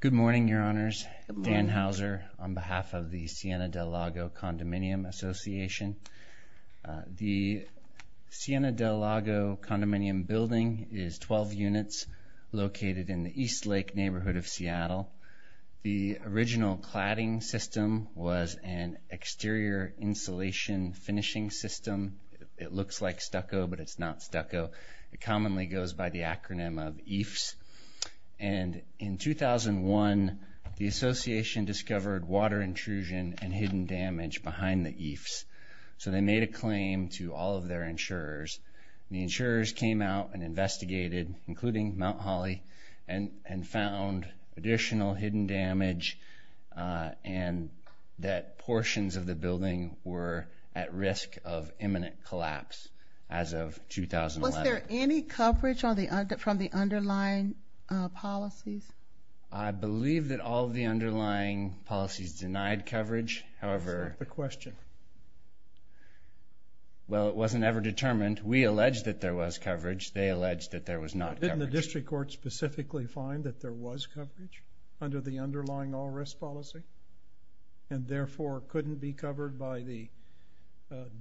Good morning, Your Honors. Dan Hauser on behalf of the Siena Del Lago Condominium Association. The Siena Del Lago Condominium building is 12 units located in the East Lake neighborhood of Seattle. The original cladding system was an exterior insulation finishing system. It looks like stucco, but it's not stucco. It commonly goes by the acronym of EIFS. And in 2001, the association discovered water intrusion and hidden damage behind the EIFS. So they made a claim to all of their insurers. The insurers came out and investigated, including Mt. Hawley, and found additional hidden damage and that portions of the building were at risk of imminent collapse as of 2011. Was there any coverage from the underlying policies? I believe that all of the underlying policies denied coverage. That's a stupid question. Well, it wasn't ever determined. We alleged that there was coverage. They alleged that there was not coverage. Didn't the district court specifically find that there was coverage under the underlying all-risk policy and therefore couldn't be covered by the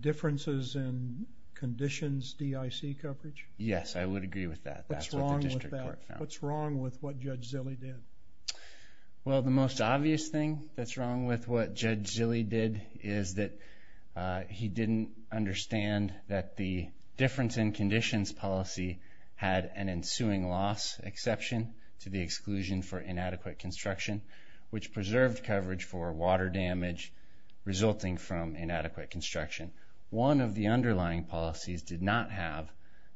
differences in conditions DIC coverage? Yes, I would agree with that. That's what the district court found. What's wrong with what Judge Zille did? Well, the most obvious thing that's wrong with what Judge Zille did is that he didn't understand that the difference in conditions policy had an ensuing loss exception to the exclusion for inadequate construction, which preserved coverage for water damage resulting from inadequate construction. One of the underlying policies did not have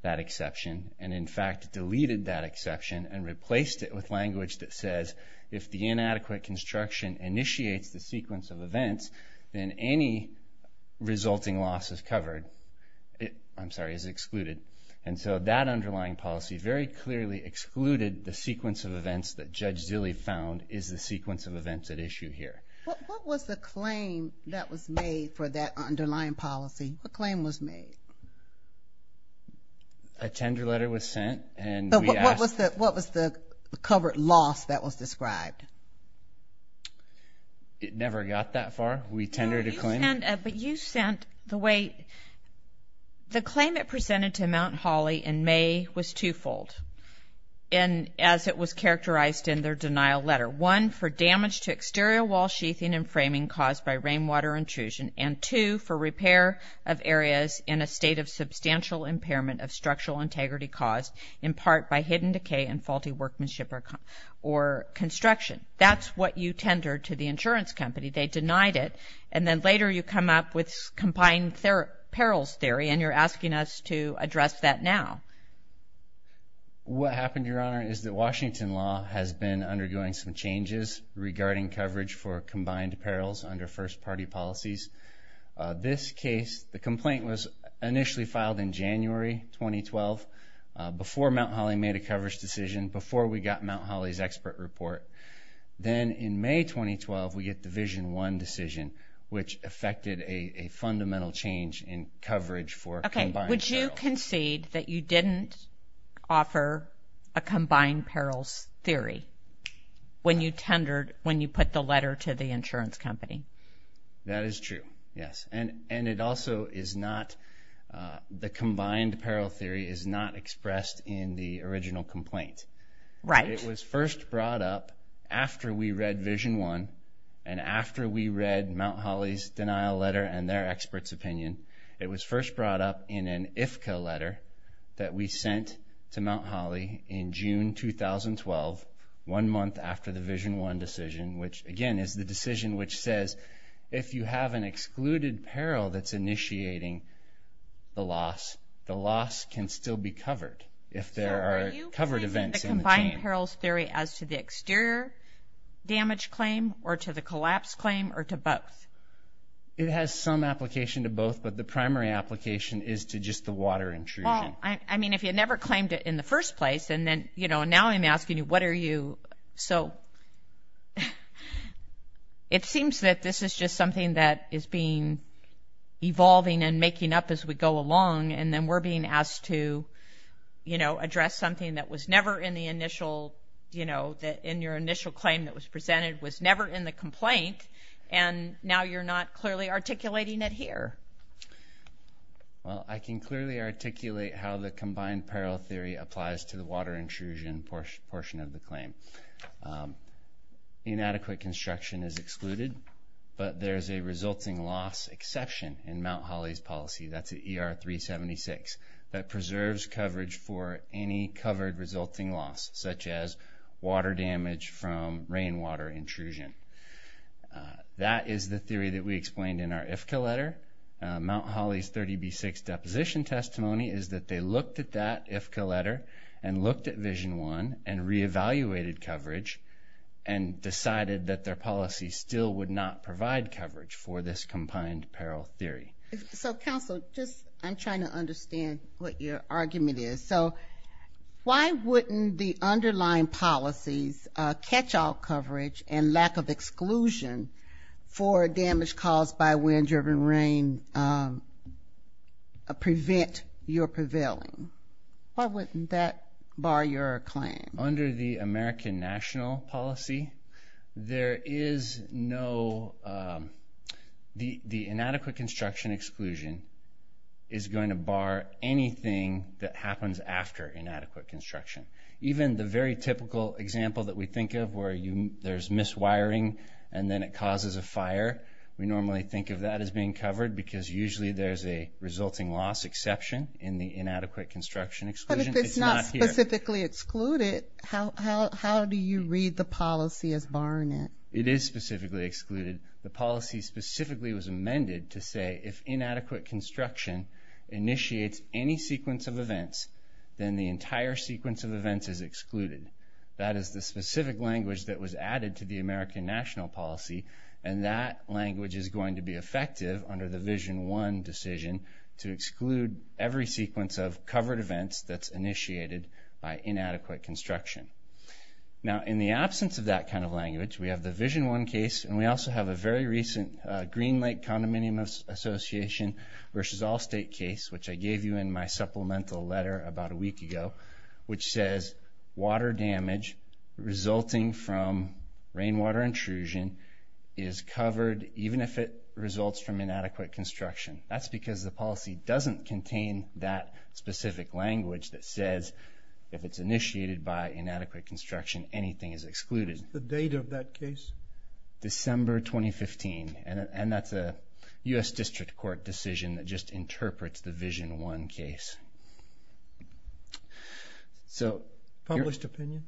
that exception and, in fact, deleted that exception and replaced it with language that says if the inadequate construction initiates the sequence of events, then any resulting loss is excluded. And so that underlying policy very clearly excluded the sequence of events that Judge Zille found is the sequence of events at issue here. What was the claim that was made for that underlying policy? What claim was made? A tender letter was sent. What was the covered loss that was described? It never got that far. We tendered a claim. But you sent the way the claim that presented to Mount Holly in May was twofold, and as it was characterized in their denial letter, one for damage to exterior wall sheathing and framing caused by rainwater intrusion and two for repair of areas in a state of substantial impairment of structural integrity caused in part by hidden decay and faulty workmanship or construction. That's what you tendered to the insurance company. They denied it, and then later you come up with combined perils theory, and you're asking us to address that now. What happened, Your Honor, is that Washington law has been undergoing some changes regarding coverage for combined perils under first-party policies. This case, the complaint was initially filed in January 2012 before Mount Holly made a coverage decision, before we got Mount Holly's expert report. Then in May 2012, we get Division I decision, which affected a fundamental change in coverage for combined perils. Would you concede that you didn't offer a combined perils theory when you put the letter to the insurance company? That is true, yes. And it also is not, the combined peril theory is not expressed in the original complaint. Right. It was first brought up after we read Division I and after we read Mount Holly's denial letter and their expert's opinion. It was first brought up in an IFCA letter that we sent to Mount Holly in June 2012, one month after the Division I decision, which, again, is the decision which says, if you have an excluded peril that's initiating the loss, the loss can still be covered if there are covered events in the chain. Are you placing the combined perils theory as to the exterior damage claim or to the collapse claim or to both? It has some application to both, but the primary application is to just the water intrusion. Well, I mean, if you never claimed it in the first place, and then, you know, now I'm asking you, what are you? So it seems that this is just something that is being evolving and making up as we go along, and then we're being asked to, you know, address something that was never in the initial, you know, in your initial claim that was presented was never in the complaint, and now you're not clearly articulating it here. Well, I can clearly articulate how the combined peril theory applies to the water intrusion portion of the claim. Inadequate construction is excluded, but there's a resulting loss exception in Mount Holly's policy. That's at ER 376. That preserves coverage for any covered resulting loss, such as water damage from rainwater intrusion. That is the theory that we explained in our IFCA letter. Mount Holly's 30B6 deposition testimony is that they looked at that IFCA letter and looked at Vision 1 and reevaluated coverage and decided that their policy still would not provide coverage for this combined peril theory. So, counsel, just I'm trying to understand what your argument is. So, why wouldn't the underlying policies catch all coverage and lack of exclusion for damage caused by wind-driven rain prevent your prevailing? Why wouldn't that bar your claim? Under the American national policy, there is no the inadequate construction exclusion is going to bar anything that happens after inadequate construction. Even the very typical example that we think of where there's miswiring and then it causes a fire, we normally think of that as being covered because usually there's a resulting loss exception in the inadequate construction exclusion. But if it's not specifically excluded, how do you read the policy as barring it? It is specifically excluded. The policy specifically was amended to say if inadequate construction initiates any sequence of events, then the entire sequence of events is excluded. That is the specific language that was added to the American national policy and that language is going to be effective under the Vision 1 decision to exclude every sequence of covered events that's initiated by inadequate construction. Now, in the absence of that kind of language, we have the Vision 1 case and we also have a very recent Green Lake Condominium Association v. Allstate case, which I gave you in my supplemental letter about a week ago, which says water damage resulting from rainwater intrusion is covered even if it results from inadequate construction. That's because the policy doesn't contain that specific language that says if it's initiated by inadequate construction, anything is excluded. What is the date of that case? December 2015, and that's a U.S. District Court decision that just interprets the Vision 1 case. Published opinion?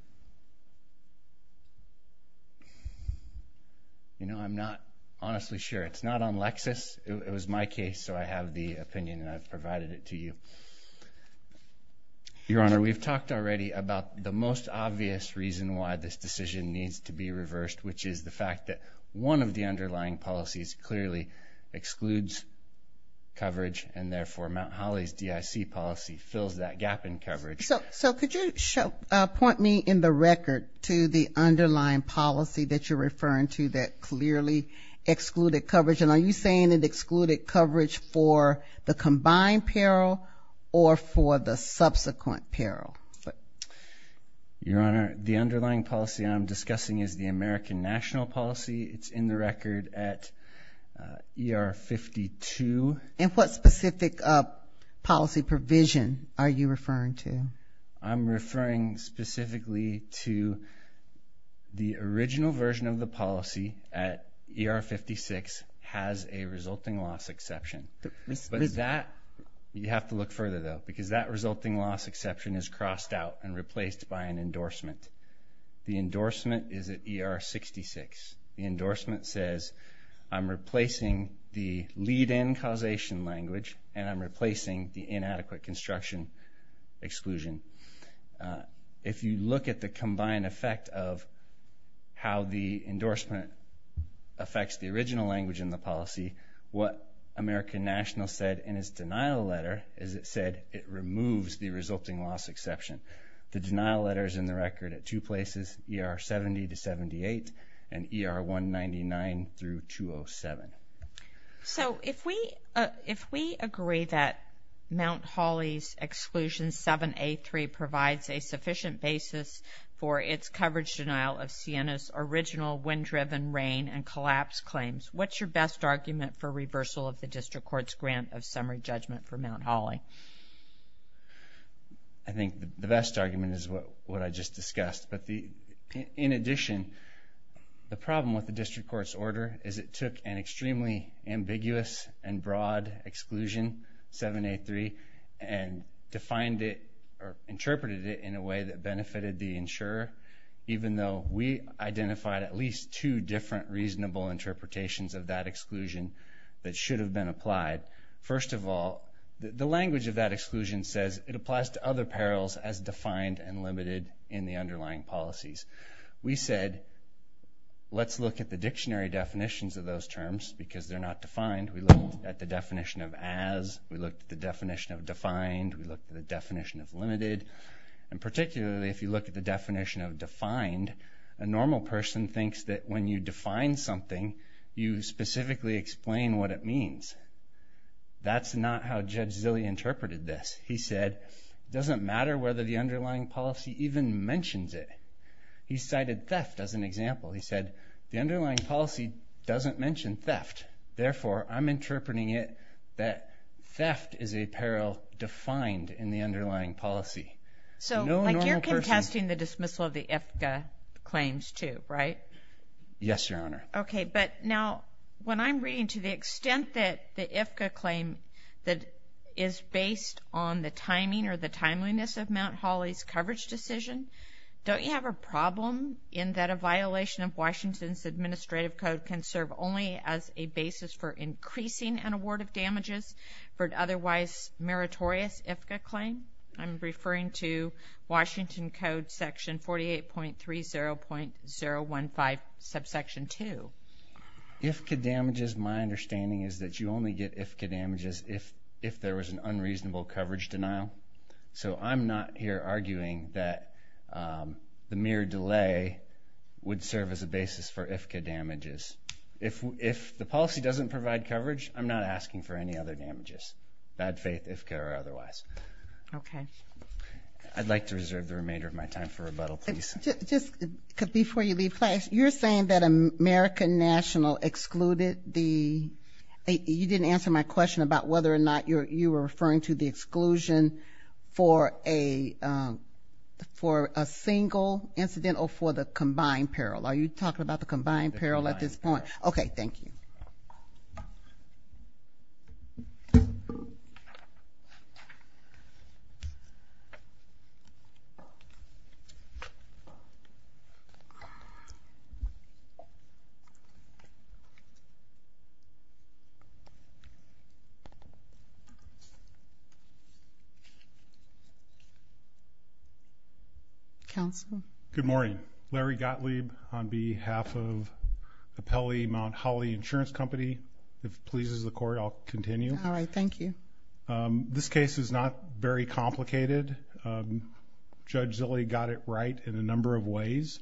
You know, I'm not honestly sure. It's not on Lexis. It was my case, so I have the opinion and I've provided it to you. Your Honor, we've talked already about the most obvious reason why this decision needs to be reversed, which is the fact that one of the underlying policies clearly excludes coverage and therefore Mount Holly's DIC policy fills that gap in coverage. So could you point me in the record to the underlying policy that you're referring to that clearly excluded coverage? And are you saying it excluded coverage for the combined peril or for the subsequent peril? Your Honor, the underlying policy I'm discussing is the American national policy. It's in the record at ER 52. And what specific policy provision are you referring to? I'm referring specifically to the original version of the policy at ER 56 has a resulting loss exception. But that, you have to look further, though, because that resulting loss exception is crossed out and replaced by an endorsement. The endorsement is at ER 66. The endorsement says I'm replacing the lead-in causation language and I'm replacing the inadequate construction exclusion. If you look at the combined effect of how the endorsement affects the original language in the policy, what American national said in its denial letter is it said it removes the resulting loss exception. The denial letter is in the record at two places, ER 70 to 78 and ER 199 through 207. So if we agree that Mt. Hawley's Exclusion 7A3 provides a sufficient basis for its coverage denial of Sienna's original wind-driven rain and collapse claims, what's your best argument for reversal of the district court's grant of summary judgment for Mt. Hawley? I think the best argument is what I just discussed. But in addition, the problem with the district court's order is it took an extremely ambiguous and broad exclusion, 7A3, and defined it or interpreted it in a way that benefited the insurer, even though we identified at least two different reasonable interpretations of that exclusion that should have been applied. First of all, the language of that exclusion says it applies to other perils as defined and limited in the underlying policies. We said let's look at the dictionary definitions of those terms because they're not defined. We looked at the definition of as. We looked at the definition of defined. We looked at the definition of limited. And particularly, if you look at the definition of defined, a normal person thinks that when you define something, you specifically explain what it means. That's not how Judge Zille interpreted this. He said it doesn't matter whether the underlying policy even mentions it. He cited theft as an example. He said the underlying policy doesn't mention theft. Therefore, I'm interpreting it that theft is a peril defined in the underlying policy. So like you're contesting the dismissal of the IFCA claims too, right? Yes, Your Honor. Okay, but now when I'm reading to the extent that the IFCA claim that is based on the timing or the timeliness of Mount Holly's coverage decision, don't you have a problem in that a violation of Washington's administrative code can serve only as a basis for increasing an award of damages for an otherwise meritorious IFCA claim? I'm referring to Washington Code Section 48.30.015, Subsection 2. IFCA damages, my understanding is that you only get IFCA damages if there was an unreasonable coverage denial. So I'm not here arguing that the mere delay would serve as a basis for IFCA damages. If the policy doesn't provide coverage, I'm not asking for any other damages, bad faith IFCA or otherwise. Okay. I'd like to reserve the remainder of my time for rebuttal, please. Just before you leave class, you're saying that American National excluded the – you didn't answer my question about whether or not you were referring to the exclusion for a single incident or for the combined peril. Are you talking about the combined peril at this point? Okay. Thank you. Counsel? Good morning. Larry Gottlieb on behalf of the Pelley Mount Holly Insurance Company. If it pleases the Court, I'll continue. All right. Thank you. This case is not very complicated. Judge Zille got it right in a number of ways.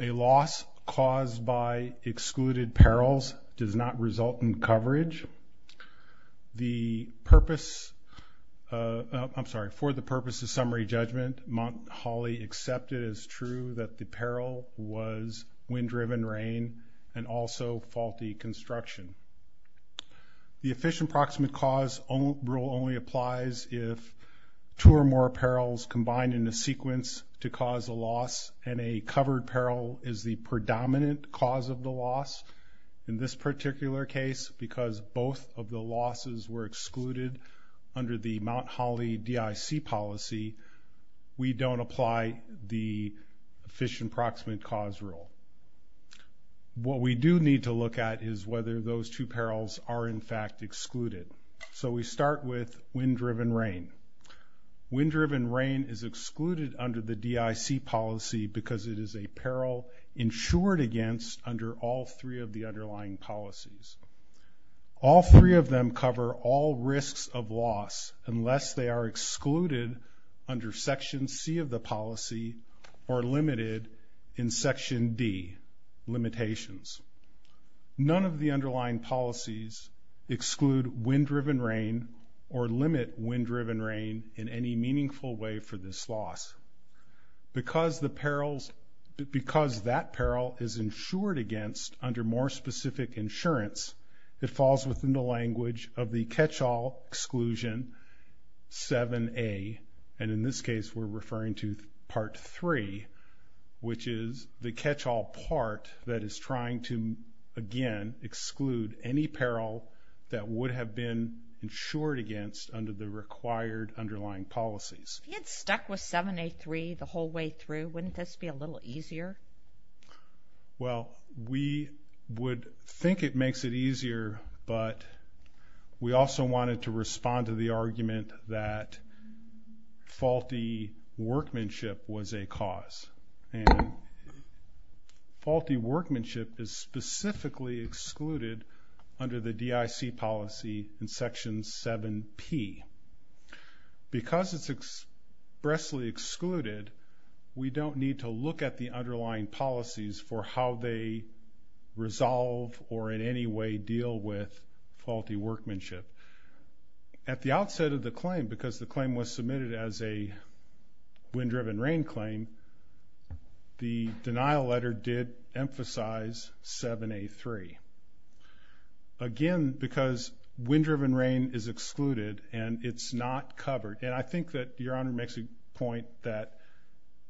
A loss caused by excluded perils does not result in coverage. The purpose – I'm sorry. For the purpose of summary judgment, Mount Holly accepted as true that the peril was wind-driven rain and also faulty construction. The efficient proximate cause rule only applies if two or more perils combined in a sequence to cause a loss, and a covered peril is the predominant cause of the loss in this particular case because both of the losses were excluded under the Mount Holly DIC policy. We don't apply the efficient proximate cause rule. What we do need to look at is whether those two perils are, in fact, excluded. So we start with wind-driven rain. Wind-driven rain is excluded under the DIC policy because it is a peril insured against under all three of the underlying policies. All three of them cover all risks of loss unless they are excluded under Section C of the policy or limited in Section D limitations. None of the underlying policies exclude wind-driven rain or limit wind-driven rain in any meaningful way for this loss. Because that peril is insured against under more specific insurance, it falls within the language of the catch-all exclusion 7A, and in this case we're referring to Part 3, which is the catch-all part that is trying to, again, exclude any peril that would have been insured against under the required underlying policies. If you had stuck with 7A3 the whole way through, wouldn't this be a little easier? Well, we would think it makes it easier, but we also wanted to respond to the argument that faulty workmanship was a cause. And faulty workmanship is specifically excluded under the DIC policy in Section 7P. Because it's expressly excluded, we don't need to look at the underlying policies for how they resolve or in any way deal with faulty workmanship. At the outset of the claim, because the claim was submitted as a wind-driven rain claim, the denial letter did emphasize 7A3. Again, because wind-driven rain is excluded and it's not covered, and I think that Your Honor makes a point that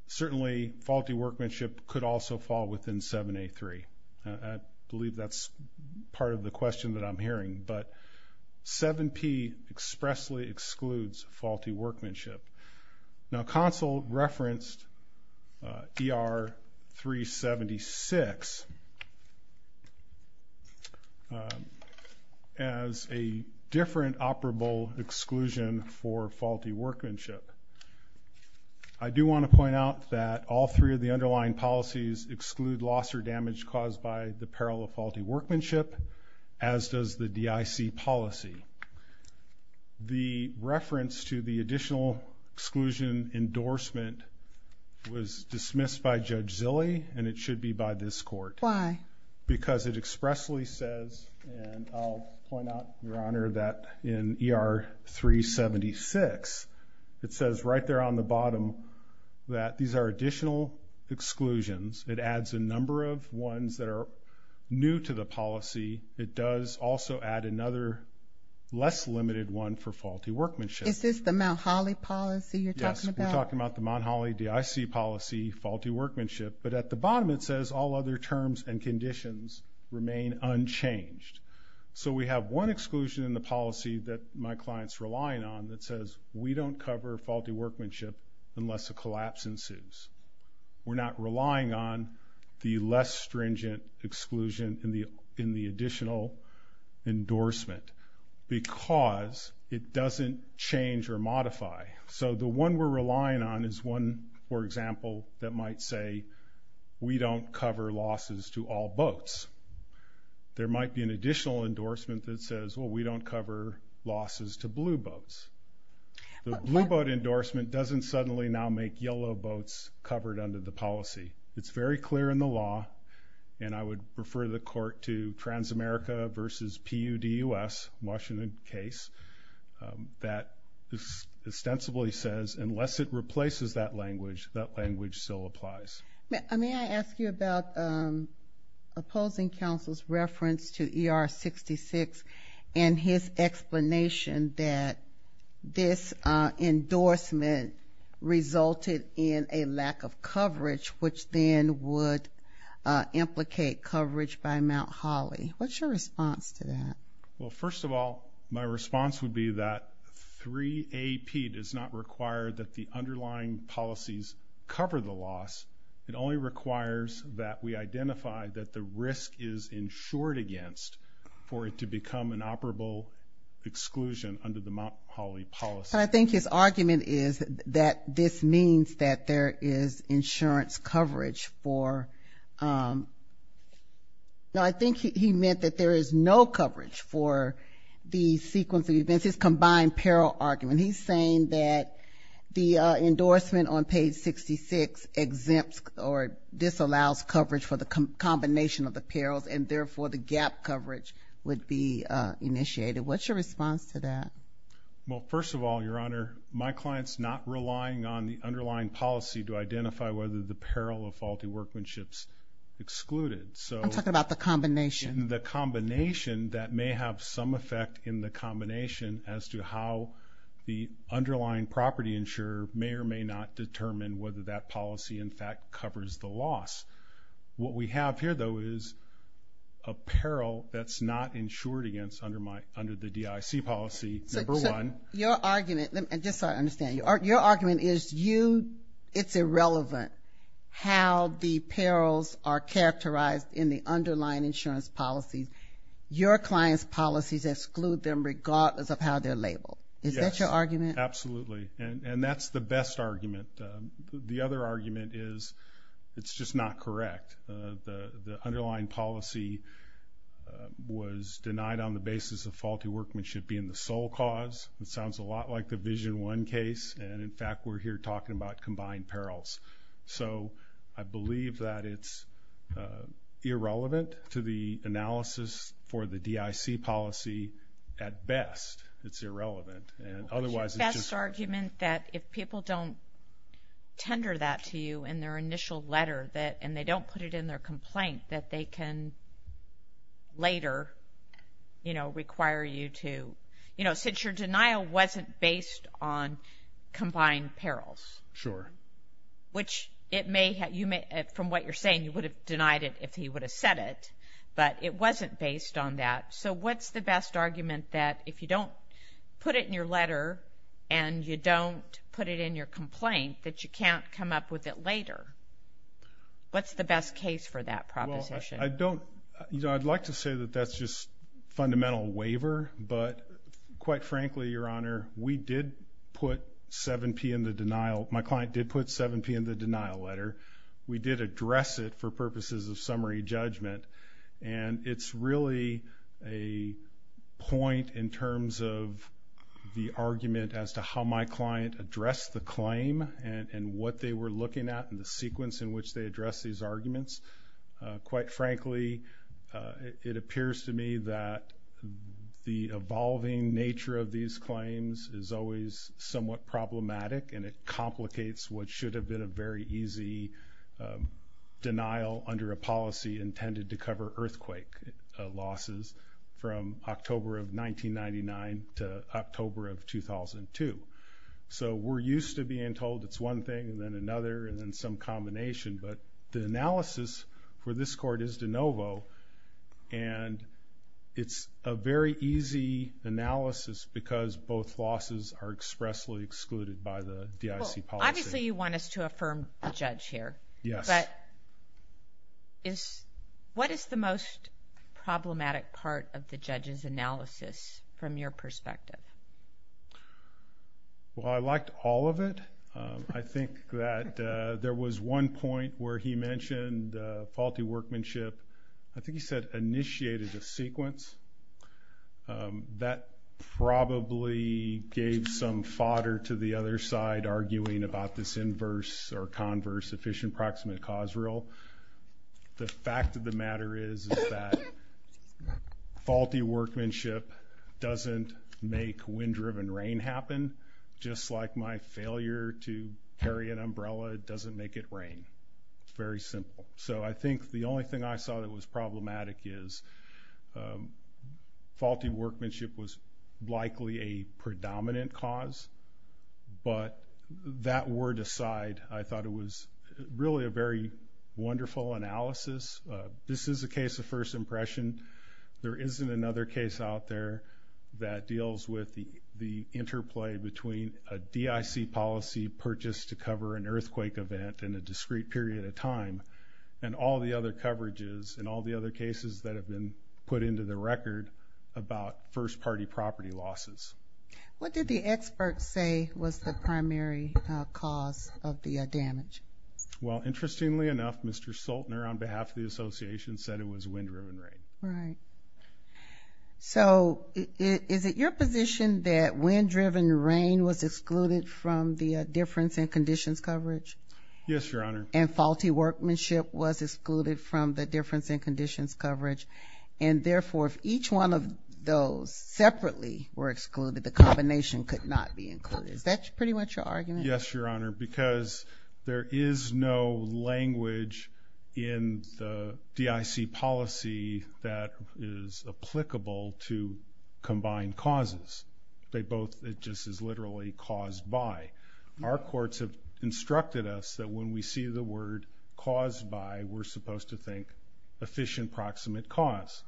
certainly faulty workmanship could also fall within 7A3. I believe that's part of the question that I'm hearing, but 7P expressly excludes faulty workmanship. Now, counsel referenced ER 376 as a different operable exclusion for faulty workmanship. I do want to point out that all three of the underlying policies exclude loss or damage caused by the peril of faulty workmanship, as does the DIC policy. The reference to the additional exclusion endorsement was dismissed by Judge Zille, and it should be by this Court. Why? Because it expressly says, and I'll point out, Your Honor, that in ER 376, it says right there on the bottom that these are additional exclusions. It adds a number of ones that are new to the policy. It does also add another less limited one for faulty workmanship. Is this the Mount Holly policy you're talking about? Yes, we're talking about the Mount Holly DIC policy, faulty workmanship, but at the bottom it says all other terms and conditions remain unchanged. So we have one exclusion in the policy that my client's relying on that says, we don't cover faulty workmanship unless a collapse ensues. We're not relying on the less stringent exclusion in the additional endorsement because it doesn't change or modify. So the one we're relying on is one, for example, that might say we don't cover losses to all boats. There might be an additional endorsement that says, well, we don't cover losses to blue boats. The blue boat endorsement doesn't suddenly now make yellow boats covered under the policy. It's very clear in the law, and I would refer the court to Transamerica v. PUDUS, Washington case, that ostensibly says unless it replaces that language, that language still applies. May I ask you about opposing counsel's reference to ER 66 and his explanation that this endorsement resulted in a lack of coverage, which then would implicate coverage by Mount Holly. What's your response to that? Well, first of all, my response would be that 3AP does not require that the underlying policies cover the loss. It only requires that we identify that the risk is insured against for it to become an operable exclusion under the Mount Holly policy. And I think his argument is that this means that there is insurance coverage for ‑‑ no, I think he meant that there is no coverage for the sequence of events, his combined peril argument. He's saying that the endorsement on page 66 exempts or disallows coverage for the combination of the perils, and therefore the gap coverage would be initiated. What's your response to that? Well, first of all, Your Honor, my client's not relying on the underlying policy to identify whether the peril of faulty workmanship's excluded. I'm talking about the combination. The combination that may have some effect in the combination as to how the underlying property insurer may or may not determine whether that policy, in fact, covers the loss. What we have here, though, is a peril that's not insured against under the DIC policy, number one. Your argument, just so I understand you, your argument is it's irrelevant how the perils are characterized in the underlying insurance policies. Your client's policies exclude them regardless of how they're labeled. Is that your argument? Yes, absolutely, and that's the best argument. The other argument is it's just not correct. The underlying policy was denied on the basis of faulty workmanship being the sole cause. It sounds a lot like the Vision 1 case, and in fact we're here talking about combined perils. I believe that it's irrelevant to the analysis for the DIC policy at best. It's irrelevant. Is your best argument that if people don't tender that to you in their initial letter, and they don't put it in their complaint, that they can later require you to, you know, since your denial wasn't based on combined perils. Sure. Which it may have, from what you're saying, you would have denied it if he would have said it, but it wasn't based on that. So what's the best argument that if you don't put it in your letter and you don't put it in your complaint that you can't come up with it later? What's the best case for that proposition? Well, I don't, you know, I'd like to say that that's just fundamental waiver, but quite frankly, Your Honor, we did put 7P in the denial. My client did put 7P in the denial letter. We did address it for purposes of summary judgment, and it's really a point in terms of the argument as to how my client addressed the claim and what they were looking at and the sequence in which they addressed these arguments. Quite frankly, it appears to me that the evolving nature of these claims is always somewhat problematic, and it complicates what should have been a very easy denial under a policy intended to cover earthquake losses from October of 1999 to October of 2002. So we're used to being told it's one thing and then another and then some combination, but the analysis for this court is de novo, and it's a very easy analysis because both losses are expressly excluded by the DIC policy. Well, obviously you want us to affirm the judge here. Yes. But what is the most problematic part of the judge's analysis from your perspective? Well, I liked all of it. I think that there was one point where he mentioned faulty workmanship. I think he said initiated a sequence. That probably gave some fodder to the other side arguing about this inverse or converse efficient approximate cause rule. The fact of the matter is that faulty workmanship doesn't make wind-driven rain happen, just like my failure to carry an umbrella doesn't make it rain. Very simple. So I think the only thing I saw that was problematic is faulty workmanship was likely a predominant cause, but that word aside, I thought it was really a very wonderful analysis. This is a case of first impression. There isn't another case out there that deals with the interplay between a DIC policy purchase to cover an earthquake event in a discrete period of time and all the other coverages and all the other cases that have been put into the record about first-party property losses. What did the expert say was the primary cause of the damage? Well, interestingly enough, Mr. Soltner, on behalf of the association, said it was wind-driven rain. Right. So is it your position that wind-driven rain was excluded from the difference in conditions coverage? Yes, Your Honor. And faulty workmanship was excluded from the difference in conditions coverage, and therefore if each one of those separately were excluded, the combination could not be included. Is that pretty much your argument? Yes, Your Honor, because there is no language in the DIC policy that is applicable to combined causes. It just is literally caused by. Our courts have instructed us that when we see the word caused by, we're supposed to think efficient proximate cause.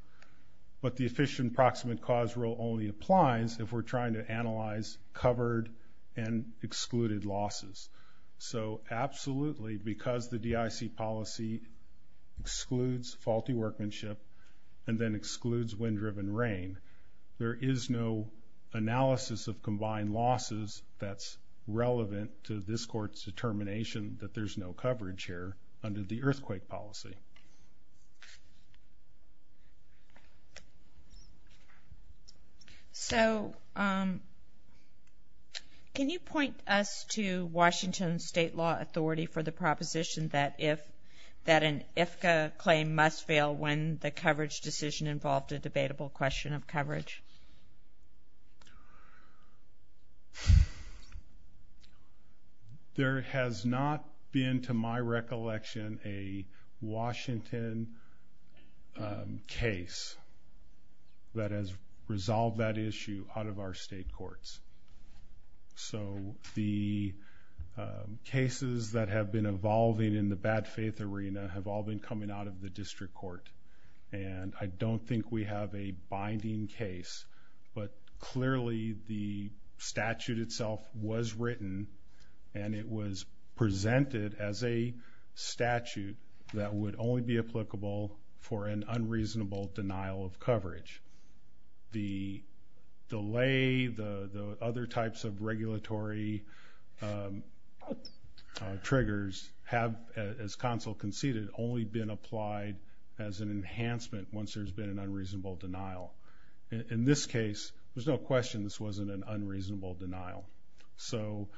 But the efficient proximate cause rule only applies if we're trying to analyze covered and excluded losses. So absolutely, because the DIC policy excludes faulty workmanship and then excludes wind-driven rain, there is no analysis of combined losses that's relevant to this court's determination that there's no coverage here under the earthquake policy. Okay. So can you point us to Washington State Law Authority for the proposition that an IFCA claim must fail when the coverage decision involved a debatable question of coverage? There has not been, to my recollection, a Washington case that has resolved that issue out of our state courts. So the cases that have been evolving in the bad faith arena have all been coming out of the district court, and I don't think we have a binding case. But clearly the statute itself was written, and it was presented as a statute that would only be applicable for an unreasonable denial of coverage. The delay, the other types of regulatory triggers have, as counsel conceded, only been applied as an enhancement once there's been an unreasonable denial. In this case, there's no question this wasn't an unreasonable denial. So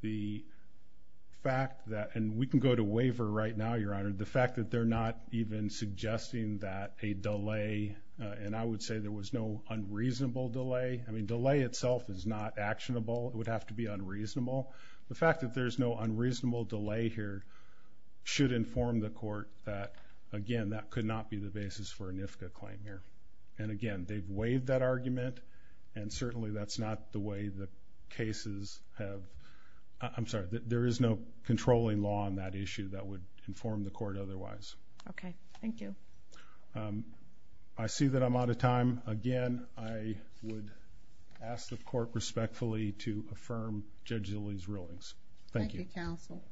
the fact that – and we can go to waiver right now, Your Honor. The fact that they're not even suggesting that a delay – and I would say there was no unreasonable delay. I mean, delay itself is not actionable. It would have to be unreasonable. The fact that there's no unreasonable delay here should inform the court that, again, that could not be the basis for a NIFCA claim here. And again, they've waived that argument, and certainly that's not the way the cases have – I'm sorry. There is no controlling law on that issue that would inform the court otherwise. Okay. Thank you. I see that I'm out of time. Again, I would ask the court respectfully to affirm Judge Zille's rulings. Thank you. Thank you, counsel.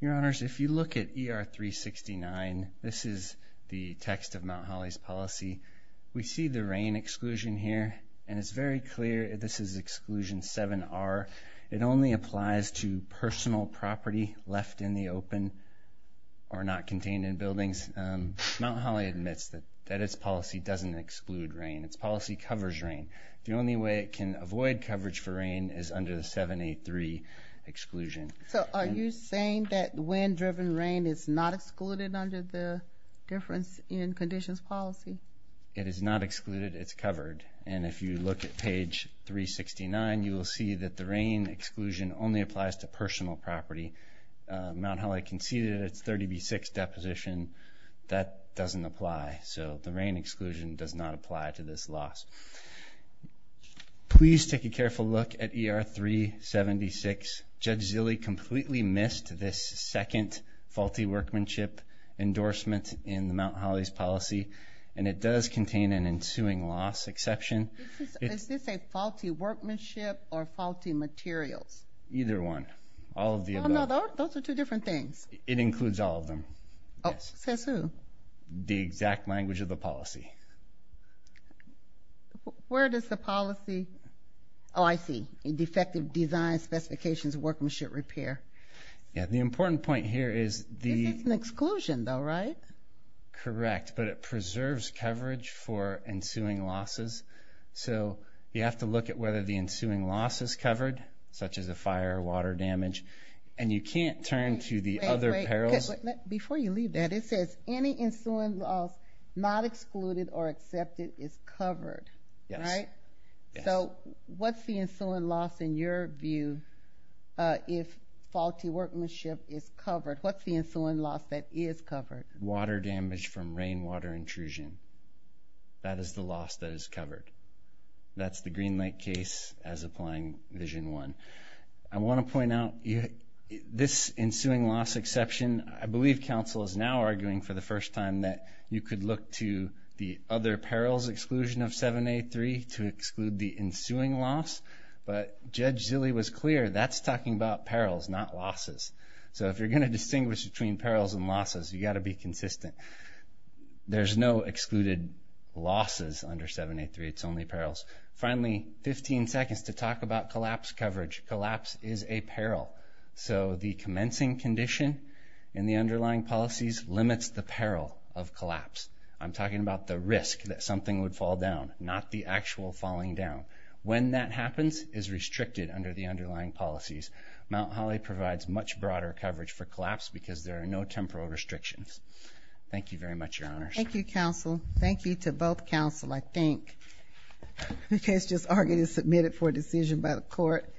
Your Honors, if you look at ER 369, this is the text of Mount Holly's policy. We see the rain exclusion here, and it's very clear this is exclusion 7R. It only applies to personal property left in the open or not contained in buildings. Mount Holly admits that its policy doesn't exclude rain. Its policy covers rain. The only way it can avoid coverage for rain is under the 783 exclusion. So are you saying that wind-driven rain is not excluded under the difference in conditions policy? It is not excluded. It's covered. And if you look at page 369, you will see that the rain exclusion only applies to personal property. Mount Holly conceded its 30B6 deposition. That doesn't apply. So the rain exclusion does not apply to this loss. Please take a careful look at ER 376. Judge Zille completely missed this second faulty workmanship endorsement in Mount Holly's policy, and it does contain an ensuing loss exception. Is this a faulty workmanship or faulty materials? Either one. All of the above. Oh, no, those are two different things. It includes all of them. Oh, says who? The exact language of the policy. Where does the policy? Oh, I see. Defective design specifications workmanship repair. Yeah, the important point here is the This is an exclusion, though, right? Correct, but it preserves coverage for ensuing losses. So you have to look at whether the ensuing loss is covered, such as a fire or water damage, and you can't turn to the other perils. Before you leave that, it says any ensuing loss not excluded or accepted is covered, right? Yes. So what's the ensuing loss in your view if faulty workmanship is covered? What's the ensuing loss that is covered? Water damage from rainwater intrusion. That is the loss that is covered. That's the Green Lake case as applying Vision 1. I want to point out this ensuing loss exception, I believe counsel is now arguing for the first time that you could look to the other perils exclusion of 7A3 to exclude the ensuing loss, but Judge Zille was clear, that's talking about perils, not losses. So if you're going to distinguish between perils and losses, you've got to be consistent. There's no excluded losses under 7A3, it's only perils. Finally, 15 seconds to talk about collapse coverage. Collapse is a peril. So the commencing condition in the underlying policies limits the peril of collapse. I'm talking about the risk that something would fall down, not the actual falling down. When that happens is restricted under the underlying policies. Mount Holly provides much broader coverage for collapse because there are no temporal restrictions. Thank you very much, Your Honors. Thank you, counsel. Thank you to both counsel, I think. The case just argued and submitted for a decision by the court.